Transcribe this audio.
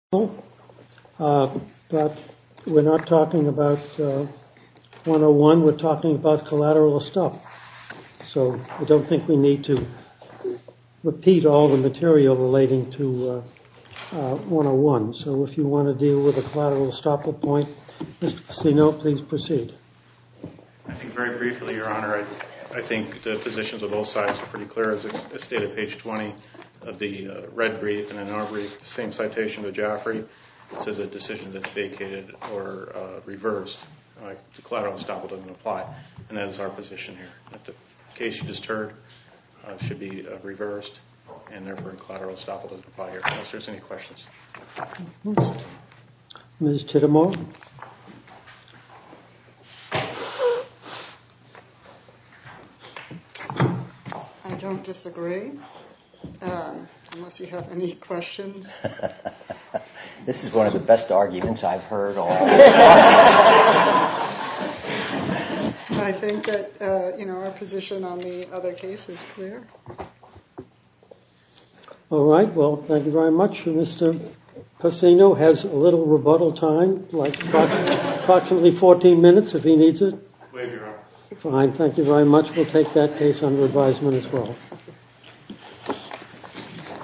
But we're not talking about 101, we're talking about collateral estoppel, so I don't think we need to repeat all the material relating to 101. So if you want to deal with a collateral estoppel point, Mr. Ceno, please proceed. I think very briefly, Your Honor, I think the positions of both sides are pretty clear. As stated at page 20 of the red brief and in our brief, the same citation to Jaffray, this is a decision that's vacated or reversed. The collateral estoppel doesn't apply, and that's our position here. The case you just heard should be reversed, and therefore a collateral estoppel doesn't apply here. If there's any questions. Ms. Tidemore? I don't disagree, unless you have any questions. This is one of the best arguments I've heard all day. I think that, you know, our position on the other case is clear. All right, well, thank you very much. Mr. Pacino has a little rebuttal time, like approximately 14 minutes if he needs it. Fine, thank you very much. We'll take that case under advisement as well.